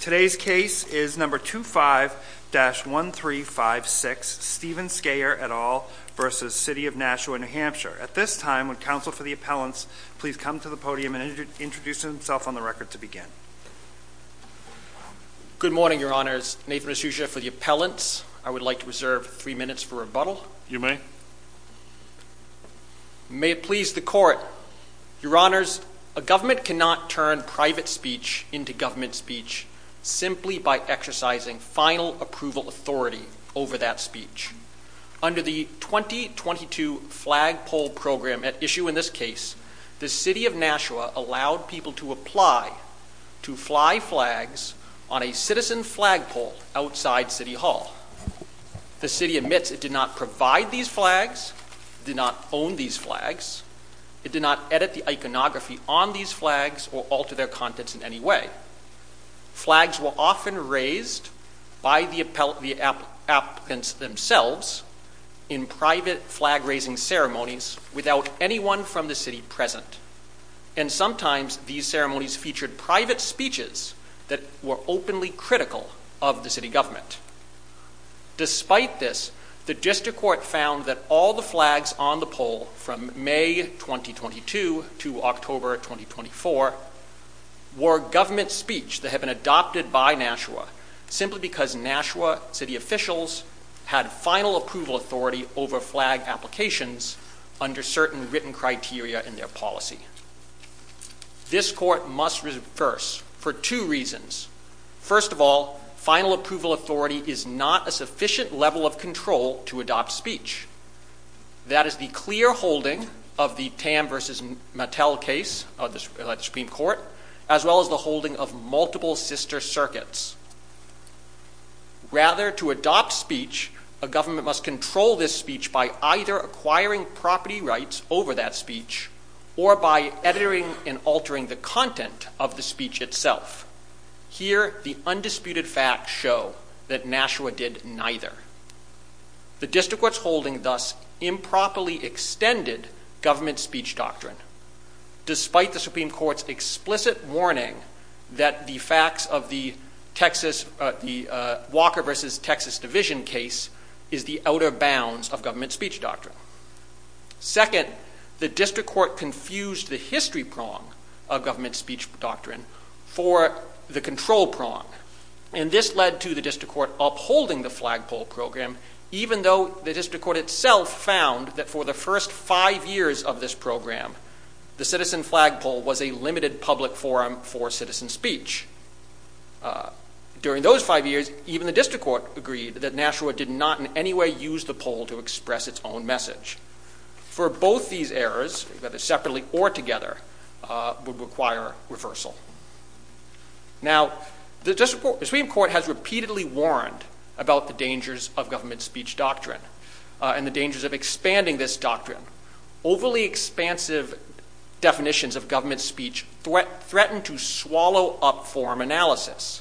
Today's case is No. 25-1356, Stephen Skayer v. City of Nashua, NH. At this time, would Counsel for the Appellants please come to the podium and introduce himself on the record to begin. Good morning, Your Honors. Nathan Asuja for the Appellants. I would like to reserve three minutes for rebuttal. You may. May it please the Court. Your Honors, a government cannot turn private speech into government speech simply by exercising final approval authority over that speech. Under the 2022 flagpole program at issue in this case, the City of Nashua allowed people to apply to fly flags on a citizen flagpole outside City Hall. The City admits it did not provide these flags, did not own these flags, it did not edit the iconography on these flags or alter their contents in any way. Flags were often raised by the applicants themselves in private flag-raising ceremonies without anyone from the City present, and sometimes these ceremonies featured private speeches that were openly critical of the City government. Despite this, the District Court found that all the flags on the pole from May 2022 to October 2024 were government speech that had been adopted by Nashua simply because Nashua City officials had final approval authority over flag applications under certain written criteria in their policy. This Court must reverse for two reasons. First of all, final approval authority is not a sufficient level of control to adopt speech. That is the clear holding of the Tam v. Mattel case of the Supreme Court, as well as the holding of multiple sister circuits. Rather to adopt speech, a government must control this speech by either acquiring property rights over that speech, or by editing and altering the content of the speech itself. Here, the undisputed facts show that Nashua did neither. The District Court's holding thus improperly extended government speech doctrine, despite the Supreme Court's explicit warning that the facts of the Walker v. Texas Division case is the outer bounds of government speech doctrine. Second, the District Court confused the history prong of government speech doctrine for the control prong. And this led to the District Court upholding the flagpole program, even though the District Court itself found that for the first five years of this program, the citizen flagpole was a limited public forum for citizen speech. During those five years, even the District Court agreed that Nashua did not in any way use the pole to express its own message. For both these errors, whether separately or together, would require reversal. Now, the Supreme Court has repeatedly warned about the dangers of government speech doctrine, and the dangers of expanding this doctrine. Overly expansive definitions of government speech threaten to swallow up forum analysis,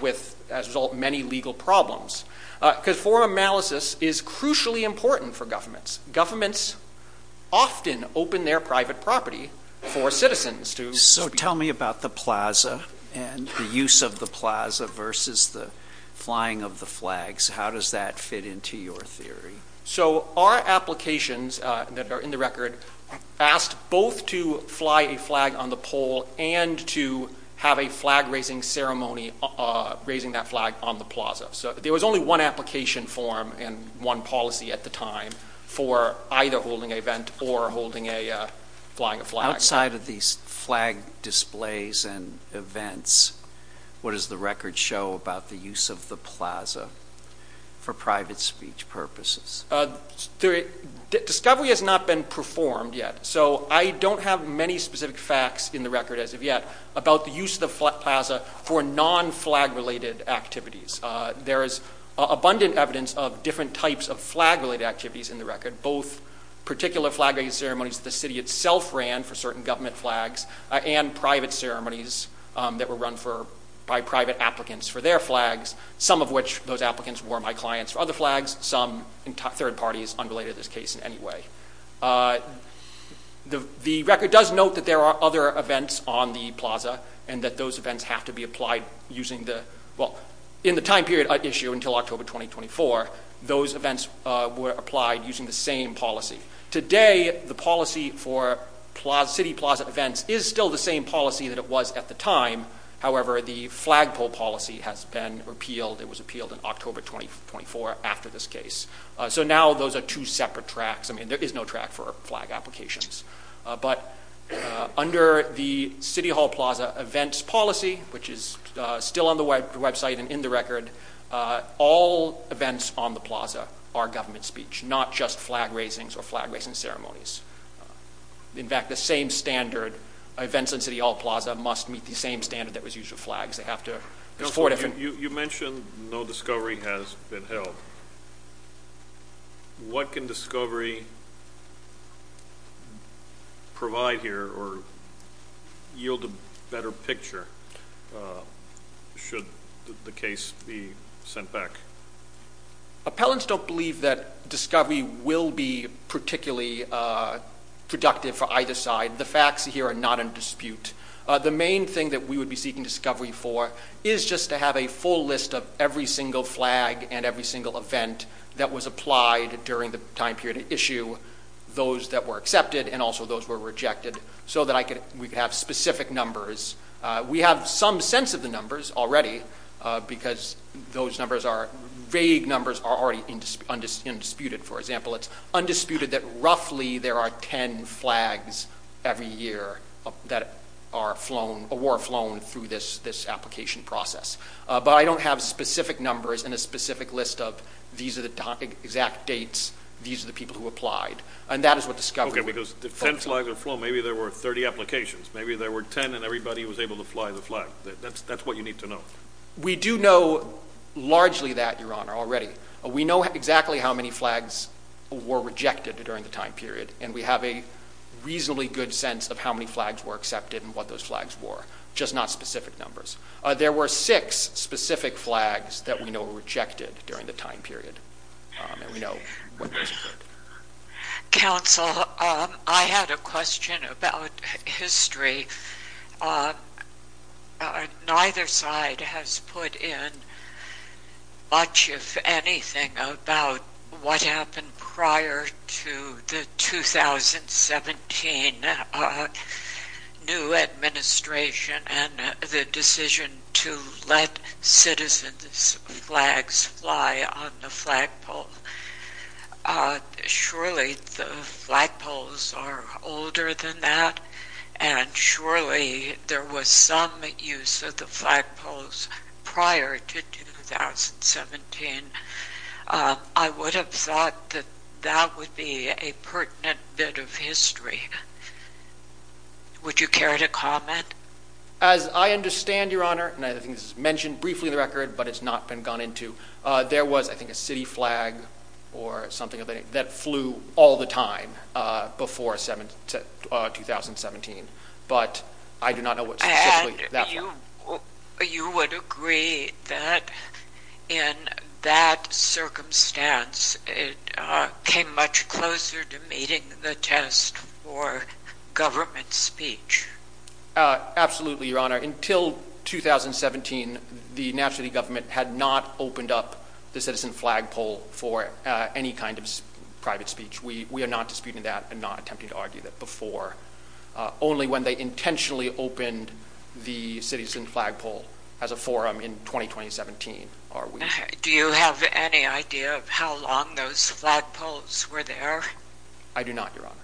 with, as a result, many legal problems. Because forum analysis is crucially important for governments. Governments often open their private property for citizens. So tell me about the plaza, and the use of the plaza versus the flying of the flags. How does that fit into your theory? So our applications that are in the record asked both to fly a flag on the pole and to have a flag raising ceremony raising that flag on the plaza. So there was only one application form and one policy at the time for either holding an event or holding a flying a flag. Outside of these flag displays and events, what does the record show about the use of the plaza for private speech purposes? Discovery has not been performed yet. So I don't have many specific facts in the record as of yet about the use of the plaza for non-flag related activities. There is abundant evidence of different types of flag related activities in the record. Both particular flag raising ceremonies the city itself ran for certain government flags, and private ceremonies that were run by private applicants for their flags. Some of which, those applicants were my clients for other flags. Some third parties unrelated to this case in any way. The record does note that there are other events on the plaza, and that those events have to be applied using the, well, in the time period at issue until October 2024, those events were applied using the same policy. Today, the policy for city plaza events is still the same policy that it was at the time. However, the flag pole policy has been repealed. It was repealed in October 2024 after this case. So now those are two separate tracks. I mean, there is no track for flag applications. But under the city hall plaza events policy, which is still on the website and in the record, all events on the plaza are government speech, not just flag raisings or flag raising ceremonies. In fact, the same standard, events in city hall plaza must meet the same standard that was used for flags. They have to, there's four different. You mentioned no discovery has been held. What can discovery provide here, or what can yield a better picture should the case be sent back? Appellants don't believe that discovery will be particularly productive for either side. The facts here are not in dispute. The main thing that we would be seeking discovery for is just to have a full list of every single flag and every single event that was applied during the time period at issue, those that were accepted and also those were rejected, so that I could, we could have specific numbers. We have some sense of the numbers already because those numbers are, vague numbers are already undisputed. For example, it's undisputed that roughly there are 10 flags every year that are flown, or were flown through this application process. But I don't have specific numbers in a specific list of these are the exact dates, these are the people who applied. And that is what discovery would focus on. For example, maybe there were 30 applications, maybe there were 10 and everybody was able to fly the flag. That's what you need to know. We do know largely that, Your Honor, already. We know exactly how many flags were rejected during the time period, and we have a reasonably good sense of how many flags were accepted and what those flags were, just not specific numbers. There were six specific flags that we know were rejected during the time period, and we know what those were. Counsel, I had a question about history. Neither side has put in much, if anything, about what happened prior to the 2017 new administration and the decision to let citizens' flags fly on the flagpole. Surely the flagpoles are older than that, and surely there was some use of the flagpoles prior to 2017. I would have thought that that would be a pertinent bit of history. Would you care to comment? As I understand, Your Honor, and I think this is mentioned briefly in the record, but it's not been gone into, there was, I think, a city flag or something that flew all the time before 2017, but I do not know what specifically that was. You would agree that in that circumstance, it came much closer to meeting the test for government speech? Absolutely, Your Honor. Until 2017, the national government had not opened up the citizen flagpole for any kind of private speech. We are not disputing that and not attempting to argue that before. Only when they intentionally opened the citizen flagpole as a forum in 2017 are we... Do you have any idea of how long those flagpoles were there? I do not, Your Honor.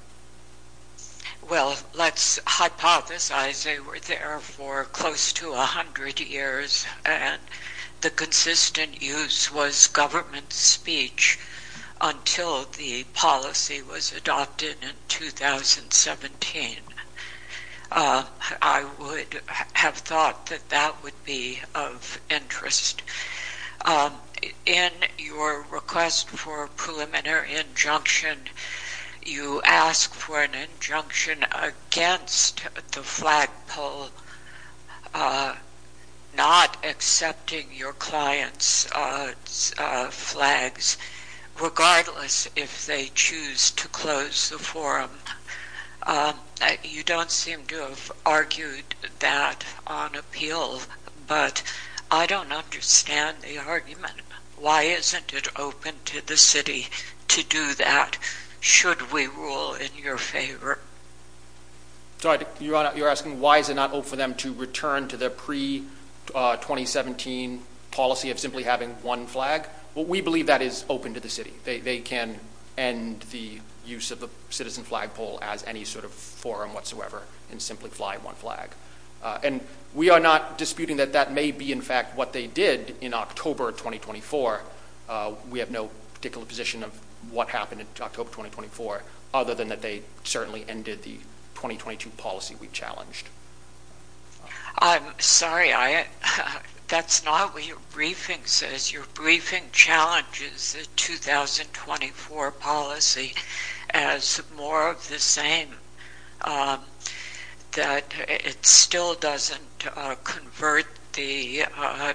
Well, let's hypothesize they were there for close to 100 years, and the consistent use was government speech until the policy was adopted in 2017. I would have thought that would be of interest. In your request for a preliminary injunction, you ask for an injunction against the flagpole not accepting your client's flags, regardless if they choose to close the forum. You don't seem to have argued that on appeal, but I don't understand the argument. Why isn't it open to the city to do that, should we rule in your favor? Sorry, Your Honor, you're asking why is it not open for them to return to their pre-2017 policy of simply having one flag? Well, we believe that is open to the city. They can end the use of the citizen flagpole as any sort of forum whatsoever and simply fly one flag. And we are not disputing that that may be, in fact, what they did in October 2024. We have no particular position of what happened in October 2024, other than that they certainly ended the 2022 policy we challenged. I'm sorry, that's not what your briefing says. Your briefing challenges the 2024 policy as more of the same, that it still doesn't convert the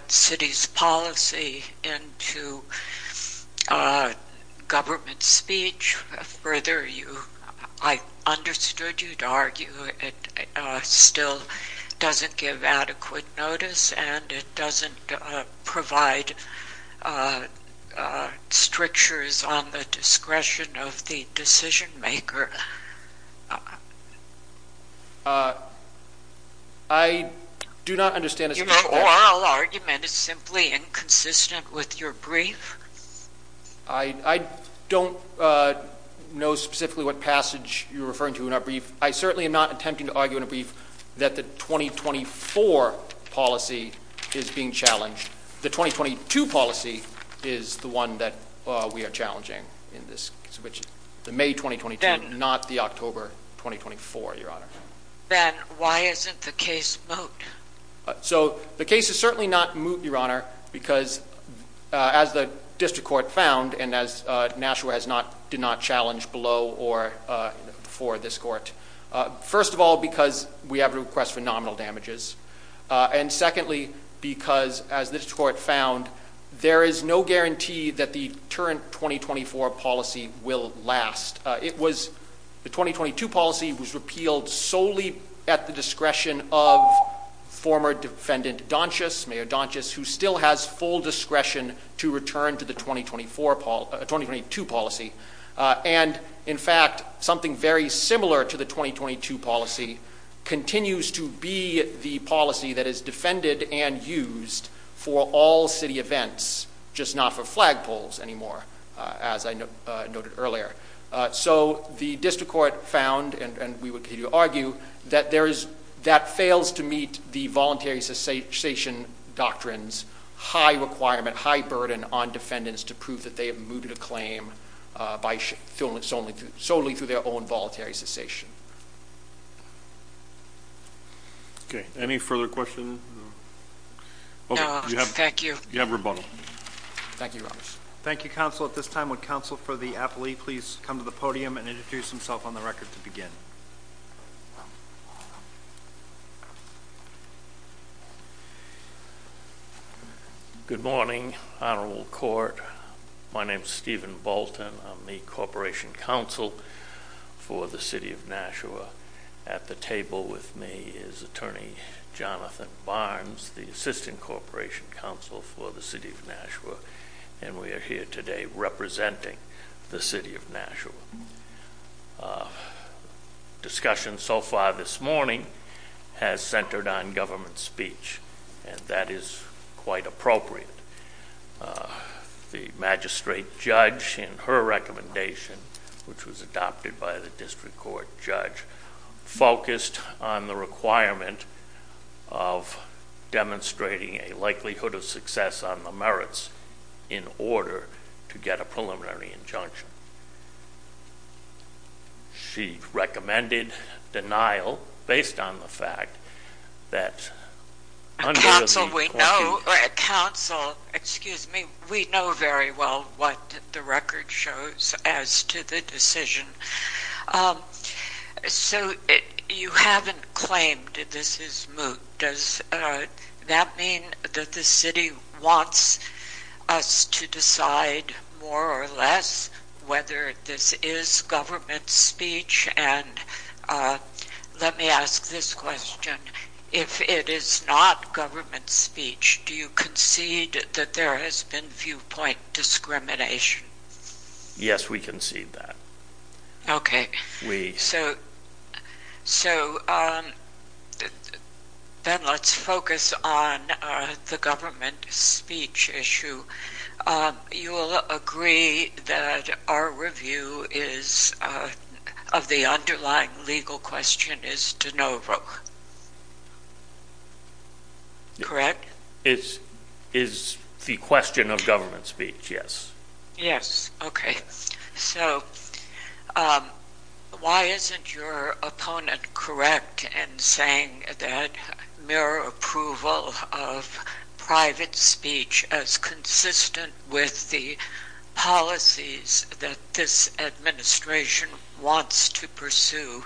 city's policy into government speech. Further, I understood you'd argue it still doesn't give adequate notice and it doesn't provide strictures on the discretion of the decision maker. I do not understand. Your oral argument is simply inconsistent with your brief. I don't know specifically what passage you're referring to in our brief. I certainly am not attempting to argue in a brief that the 2024 policy is being challenged. The 2022 policy is the one that we are challenging in this case, which is the May 2022, not the October 2024, Your Honor. Then why isn't the case moot? The case is certainly not moot, Your Honor, because as the district court found and as Nashua did not challenge below or before this court, first of all, because we have requests for nominal damages, and secondly, because as this court found, there is no guarantee that the current 2024 policy will last. The 2022 policy was repealed solely at the discretion of former defendant Donchess, Mayor Donchess, who still has full discretion to return to the 2022 policy. And in fact, something very similar to the 2022 policy continues to be the policy that is defended and used for all city events, just not for flagpoles anymore, as I noted earlier. So the district court found, and we would continue to argue, that that fails to meet the voluntary cessation doctrines, high requirement, high burden on defendants to prove that they have mooted a claim solely through their own voluntary cessation. Okay. Any further questions? No, thank you. You have rebuttal. Thank you, Your Honor. Thank you, Counsel. At this time, would Counsel for the appellee please come to the podium and introduce himself on the record to begin? Good morning, Honorable Court. My name is Stephen Bolton. I'm the Corporation Counsel for the City of Nashua. At the table with me is Attorney Jonathan Barnes, the Assistant Corporation Counsel for the City of Nashua, and we are here today representing the City of Nashua. Discussion so far this morning has centered on government speech, and that is quite appropriate. The magistrate judge in her recommendation, which was adopted by the district court judge, focused on the requirement of demonstrating a likelihood of success on the merits in order to get a preliminary injunction. She recommended denial based on the fact that— Counsel, we know—Counsel, excuse me. We know very well what the record shows as to the decision. So you haven't claimed that this is moot. Does that mean that the city wants us to decide more or less whether this is government speech? And let me ask this question. If it is not government speech, do you concede that there has been viewpoint discrimination? Yes, we concede that. Okay, so then let's focus on the government speech issue. You will agree that our review of the underlying legal question is de novo, correct? It is the question of government speech, yes. Yes, okay, so why isn't your opponent correct in saying that mere approval of private speech as consistent with the policies that this administration wants to pursue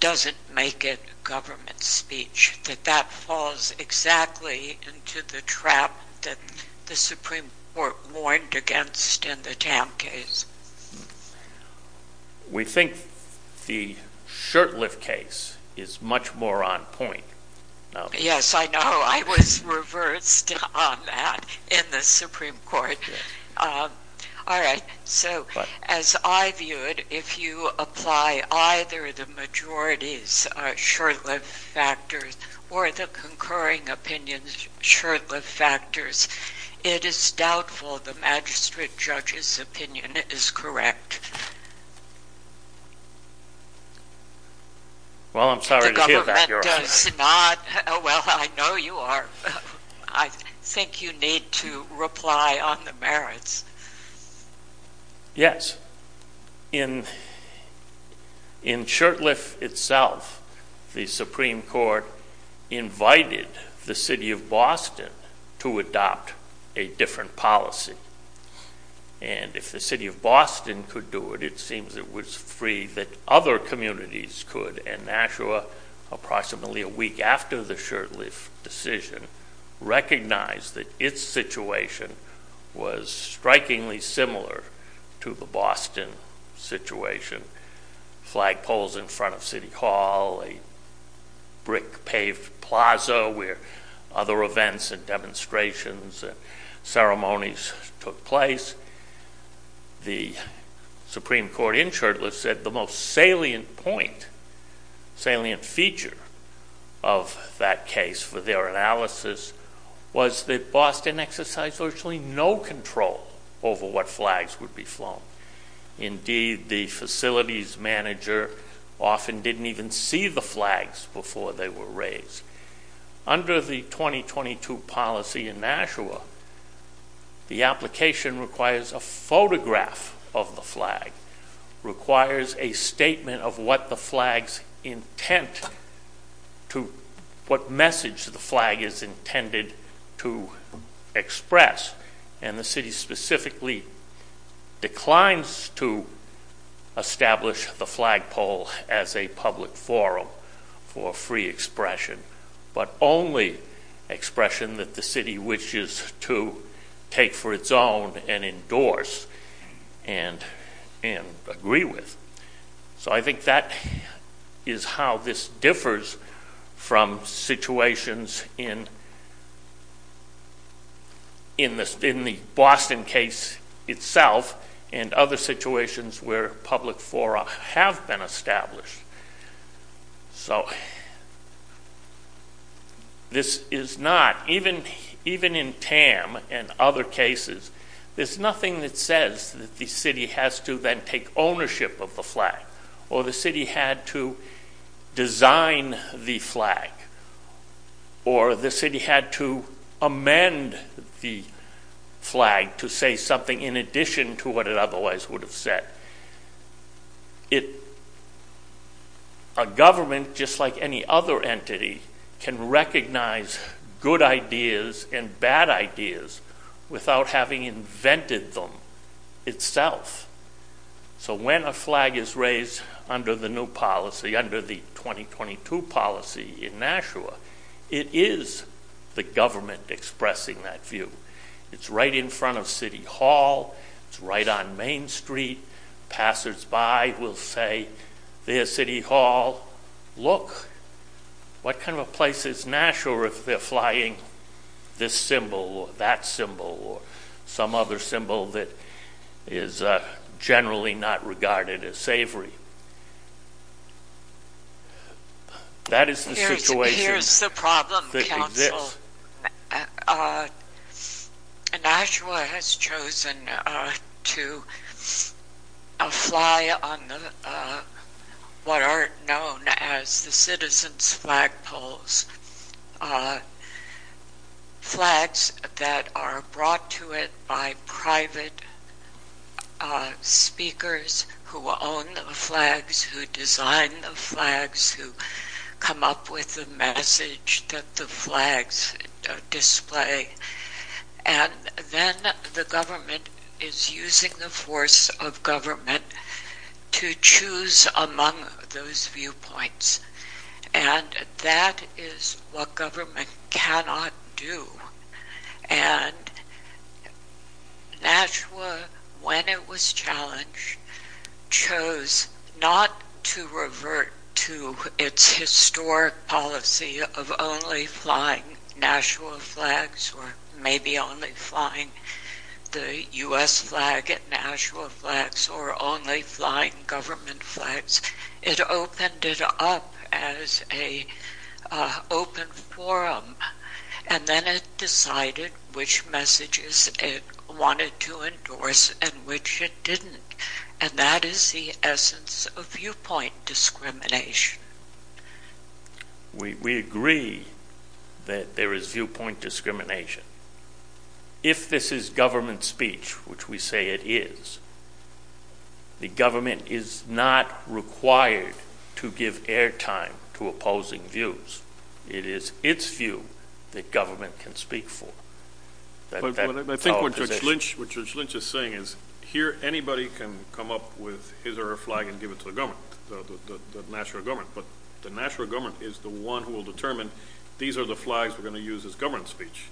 doesn't make it government speech? That that falls exactly into the trap that the Supreme Court warned against in the Tam case? We think the Shurtleff case is much more on point. Yes, I know. I was reversed on that in the Supreme Court. All right, so as I view it, if you apply either the majority's Shurtleff factors or the concurring opinion's Shurtleff factors, it is doubtful the magistrate judge's opinion is correct. Well, I'm sorry to hear that, Your Honor. It's not. Well, I know you are. I think you need to reply on the merits. Yes. In Shurtleff itself, the Supreme Court invited the city of Boston to adopt a different policy. And if the city of Boston could do it, it seems it was free that other communities could, and Nashua, approximately a week after the Shurtleff decision, recognized that its situation was strikingly similar to the Boston situation. Flag poles in front of City Hall, a brick paved plaza where other events and demonstrations and ceremonies took place. The Supreme Court in Shurtleff said the most salient point, salient feature of that case for their analysis was that Boston exercised virtually no control over what flags would be flown. Indeed, the facilities manager often didn't even see the flags before they were raised. Under the 2022 policy in Nashua, the application requires a photograph of the flag, requires a statement of what the flag's intent, what message the flag is intended to express. And the city specifically declines to establish the flag pole as a public forum for free expression, but only expression that the city wishes to take for its own and endorse and agree with. So I think that is how this differs from situations in the Boston case itself and other situations where public fora have been established. So this is not, even in Tam and other cases, there's nothing that says that the city has to then take ownership of the flag or the city had to design the flag or the city had to amend the flag to say something in addition to what it otherwise would have said. A government, just like any other entity, can recognize good ideas and bad ideas without having invented them itself. So when a flag is raised under the new policy, under the 2022 policy in Nashua, it is the government expressing that view. It's right in front of City Hall. It's right on Main Street. Passersby will say, there's City Hall. Well, look, what kind of a place is Nashua if they're flying this symbol or that symbol or some other symbol that is generally not regarded as savory? That is the situation that exists. Nashua has chosen to fly on what are known as the citizens' flagpoles, flags that are brought to it by private speakers who own the flags, who design the flags, who come up with the message that the flags display. And then the government is using the force of government to choose among those viewpoints. And that is what government cannot do. And Nashua, when it was challenged, chose not to revert to its historic policy of only flying Nashua flags or maybe only flying the U.S. flag at Nashua flags or only flying government flags. It opened it up as an open forum. And then it decided which messages it wanted to endorse and which it didn't. And that is the essence of viewpoint discrimination. We agree that there is viewpoint discrimination. If this is government speech, which we say it is, the government is not required to give airtime to opposing views. It is its view that government can speak for. I think what Judge Lynch is saying is here anybody can come up with his or her flag and give it to the government, the Nashua government. But the Nashua government is the one who will determine these are the flags we're going to use as government speech.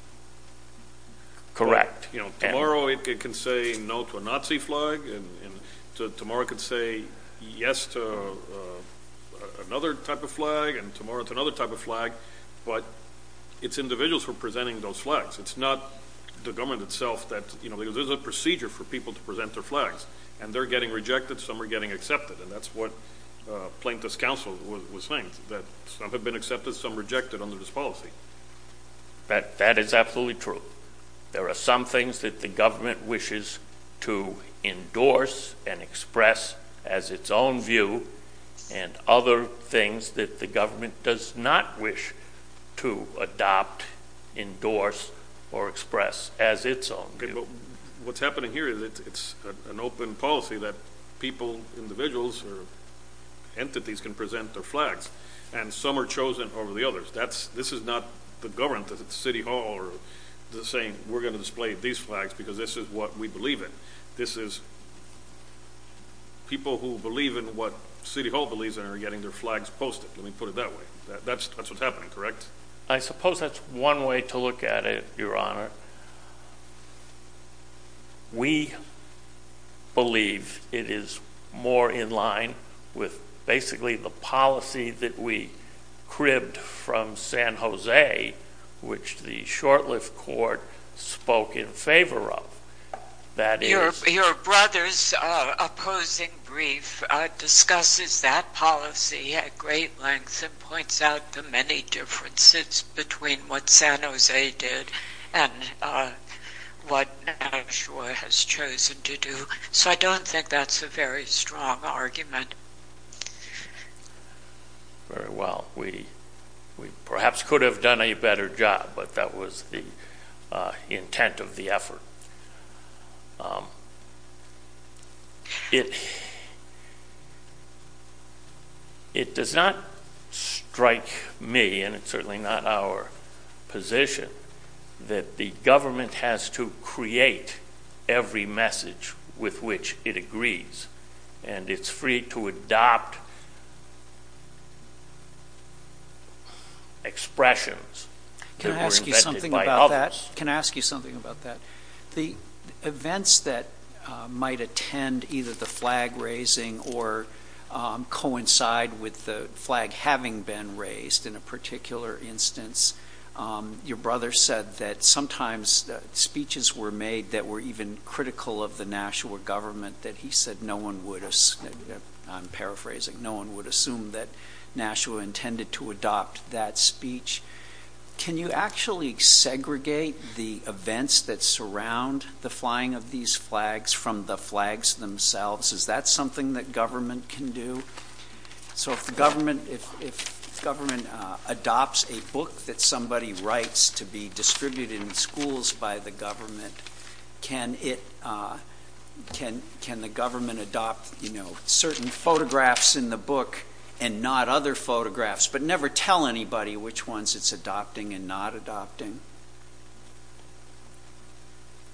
Correct. Tomorrow it can say no to a Nazi flag. Tomorrow it can say yes to another type of flag. And tomorrow to another type of flag. But it's individuals who are presenting those flags. It's not the government itself. There's a procedure for people to present their flags. And they're getting rejected. Some are getting accepted. And that's what plaintiffs' counsel was saying, that some have been accepted, some rejected under this policy. That is absolutely true. There are some things that the government wishes to endorse and express as its own view, and other things that the government does not wish to adopt, endorse, or express as its own view. What's happening here is it's an open policy that people, individuals, or entities can present their flags. And some are chosen over the others. This is not the government at City Hall saying, we're going to display these flags because this is what we believe in. This is people who believe in what City Hall believes in are getting their flags posted. Let me put it that way. That's what's happening, correct? I suppose that's one way to look at it, Your Honor. We believe it is more in line with, basically, the policy that we cribbed from San Jose, which the short-lived court spoke in favor of. Your brother's opposing brief discusses that policy at great length and points out the many differences between what San Jose did and what Nashua has chosen to do. So I don't think that's a very strong argument. Very well. We perhaps could have done a better job, but that was the intent of the effort. It does not strike me, and it's certainly not our position, that the government has to create every message with which it agrees. And it's free to adopt expressions that were invented by others. Can I ask you something about that? The events that might attend either the flag raising or coincide with the flag having been raised, in a particular instance, your brother said that sometimes speeches were made that were even critical of the Nashua government, that he said no one would assume. I'm paraphrasing. No one would assume that Nashua intended to adopt that speech. Can you actually segregate the events that surround the flying of these flags from the flags themselves? Is that something that government can do? So if government adopts a book that somebody writes to be distributed in schools by the government, can the government adopt certain photographs in the book and not other photographs, but never tell anybody which ones it's adopting and not adopting?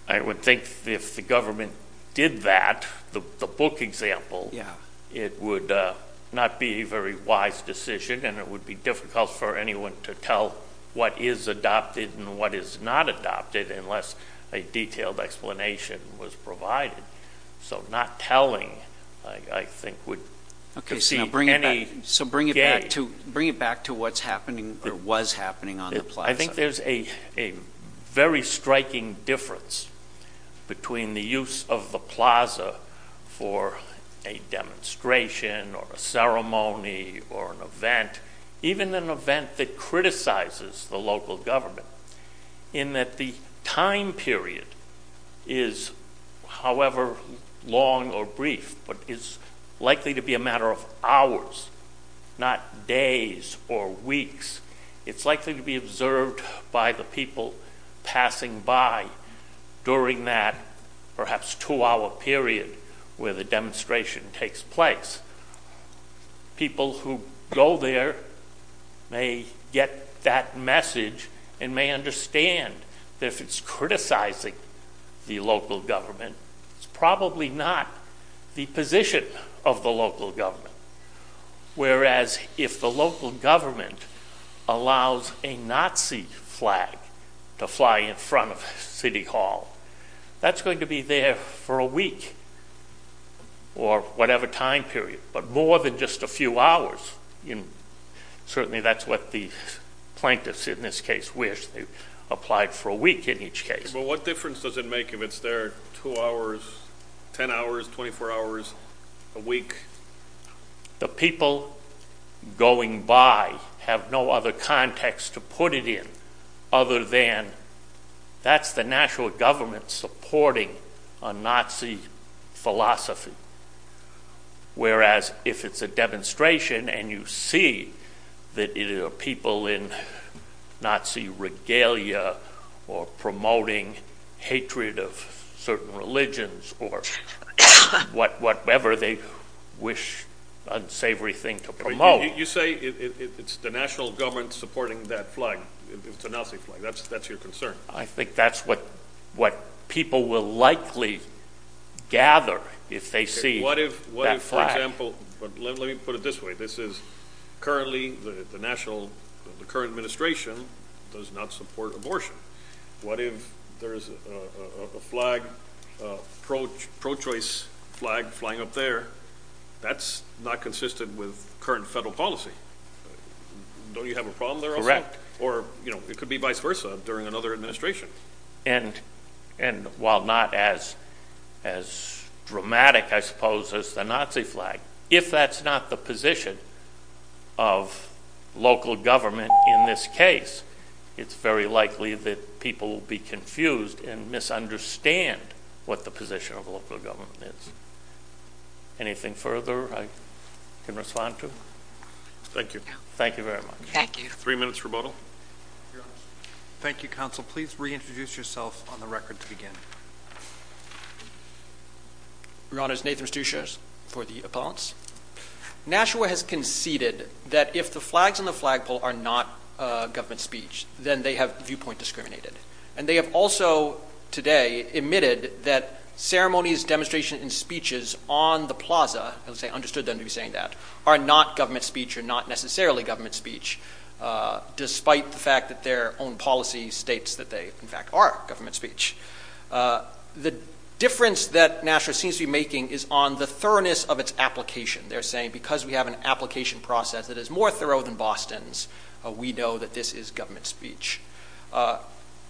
I would think if the government did that, the book example, it would not be a very wise decision, and it would be difficult for anyone to tell what is adopted and what is not adopted unless a detailed explanation was provided. So not telling, I think, would be any gain. Okay, so bring it back to what's happening or was happening on the plaza. I think there's a very striking difference between the use of the plaza for a demonstration or a ceremony or an event, even an event that criticizes the local government, in that the time period is however long or brief but is likely to be a matter of hours, not days or weeks. It's likely to be observed by the people passing by during that perhaps two-hour period where the demonstration takes place. People who go there may get that message and may understand that if it's criticizing the local government, it's probably not the position of the local government, whereas if the local government allows a Nazi flag to fly in front of City Hall, that's going to be there for a week or whatever time period, but more than just a few hours. Certainly that's what the plaintiffs in this case wish. They applied for a week in each case. But what difference does it make if it's there two hours, ten hours, 24 hours, a week? The people going by have no other context to put it in other than that's the national government supporting a Nazi philosophy, whereas if it's a demonstration and you see that there are people in Nazi regalia or promoting hatred of certain religions or whatever they wish unsavory thing to promote. You say it's the national government supporting that flag, it's a Nazi flag. That's your concern? I think that's what people will likely gather if they see that flag. Let me put it this way. Currently the current administration does not support abortion. What if there is a pro-choice flag flying up there? That's not consistent with current federal policy. Don't you have a problem there also? Correct. Or it could be vice versa during another administration. And while not as dramatic, I suppose, as the Nazi flag, if that's not the position of local government in this case, it's very likely that people will be confused and misunderstand what the position of local government is. Anything further I can respond to? Thank you. Thank you very much. Thank you. Three minutes rebuttal. Thank you, Counsel. Please reintroduce yourself on the record to begin. Your Honors, Nathan Mastuchios for the appellants. Nashua has conceded that if the flags on the flagpole are not government speech, then they have viewpoint discriminated. And they have also today admitted that ceremonies, demonstrations, and speeches on the plaza, as I understood them to be saying that, are not government speech or not necessarily government speech, despite the fact that their own policy states that they, in fact, are government speech. The difference that Nashua seems to be making is on the thoroughness of its application. They're saying because we have an application process that is more thorough than Boston's, we know that this is government speech.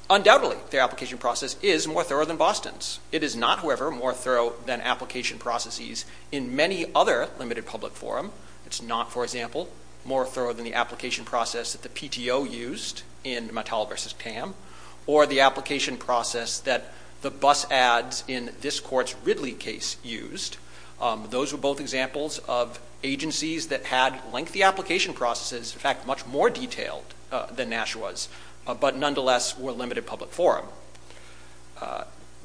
Undoubtedly, their application process is more thorough than Boston's. It is not, however, more thorough than application processes in many other limited public forum. It's not, for example, more thorough than the application process that the PTO used in Mattel v. Tam or the application process that the bus ads in this court's Ridley case used. Those were both examples of agencies that had lengthy application processes, in fact, much more detailed than Nashua's, but nonetheless were limited public forum.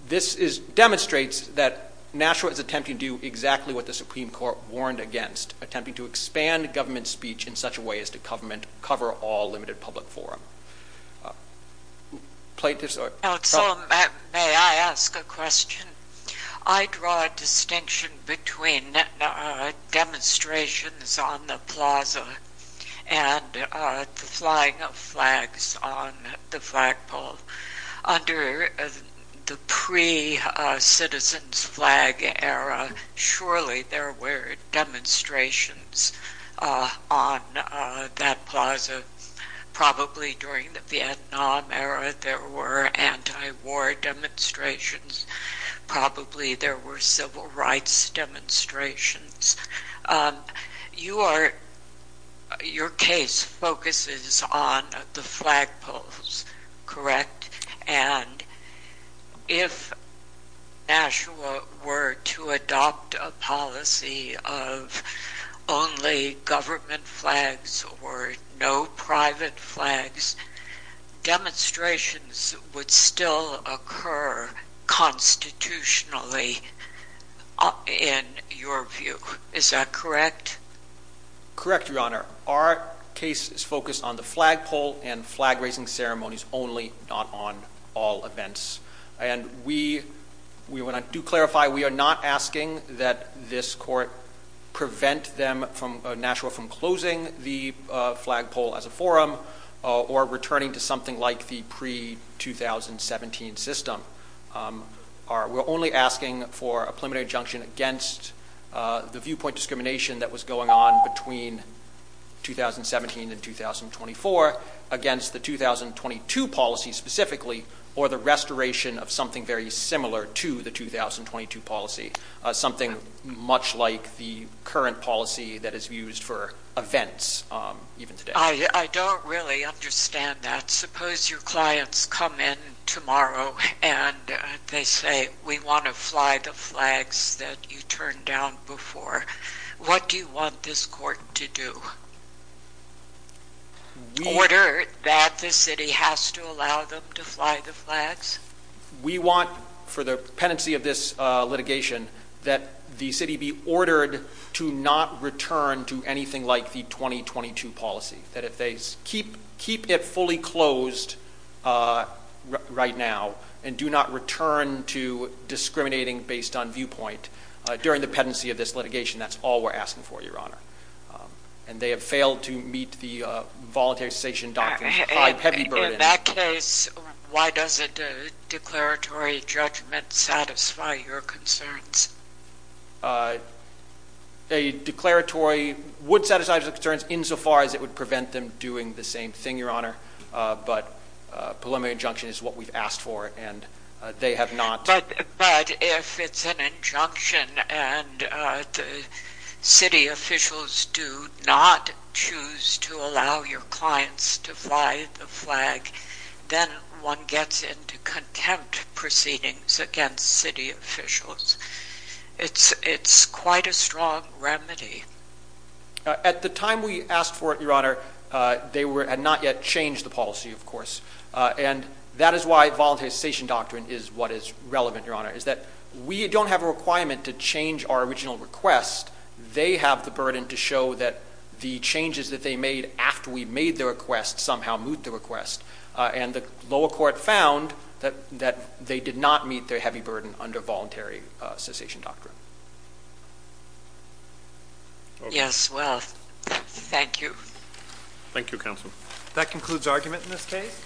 This demonstrates that Nashua is attempting to do exactly what the Supreme Court warned against, attempting to expand government speech in such a way as to cover all limited public forum. May I ask a question? I draw a distinction between demonstrations on the plaza and the flying of flags on the flagpole. Under the pre-citizens flag era, surely there were demonstrations on that plaza. Probably during the Vietnam era, there were anti-war demonstrations. Probably there were civil rights demonstrations. Your case focuses on the flagpoles, correct? And if Nashua were to adopt a policy of only government flags or no private flags, demonstrations would still occur constitutionally in your view. Is that correct? Correct, Your Honor. Our case is focused on the flagpole and flag-raising ceremonies only, not on all events. And we do clarify we are not asking that this court prevent Nashua from closing the flagpole as a forum or returning to something like the pre-2017 system. We're only asking for a preliminary injunction against the viewpoint discrimination that was going on between 2017 and 2024 against the 2022 policy specifically or the restoration of something very similar to the 2022 policy, something much like the current policy that is used for events even today. I don't really understand that. Suppose your clients come in tomorrow and they say, we want to fly the flags that you turned down before. What do you want this court to do? Order that the city has to allow them to fly the flags? We want, for the pendency of this litigation, that the city be ordered to not return to anything like the 2022 policy, that if they keep it fully closed right now and do not return to discriminating based on viewpoint during the pendency of this litigation, that's all we're asking for, Your Honor. And they have failed to meet the voluntary cessation document. In that case, why doesn't a declaratory judgment satisfy your concerns? A declaratory would satisfy the concerns insofar as it would prevent them doing the same thing, Your Honor. But a preliminary injunction is what we've asked for and they have not. But if it's an injunction and the city officials do not choose to allow your clients to fly the flag, then one gets into contempt proceedings against city officials. It's quite a strong remedy. At the time we asked for it, Your Honor, they had not yet changed the policy, of course. And that is why voluntary cessation doctrine is what is relevant, Your Honor, is that we don't have a requirement to change our original request. They have the burden to show that the changes that they made after we made the request somehow moot the request. And the lower court found that they did not meet their heavy burden under voluntary cessation doctrine. Yes, well, thank you. Thank you, counsel. That concludes argument in this case.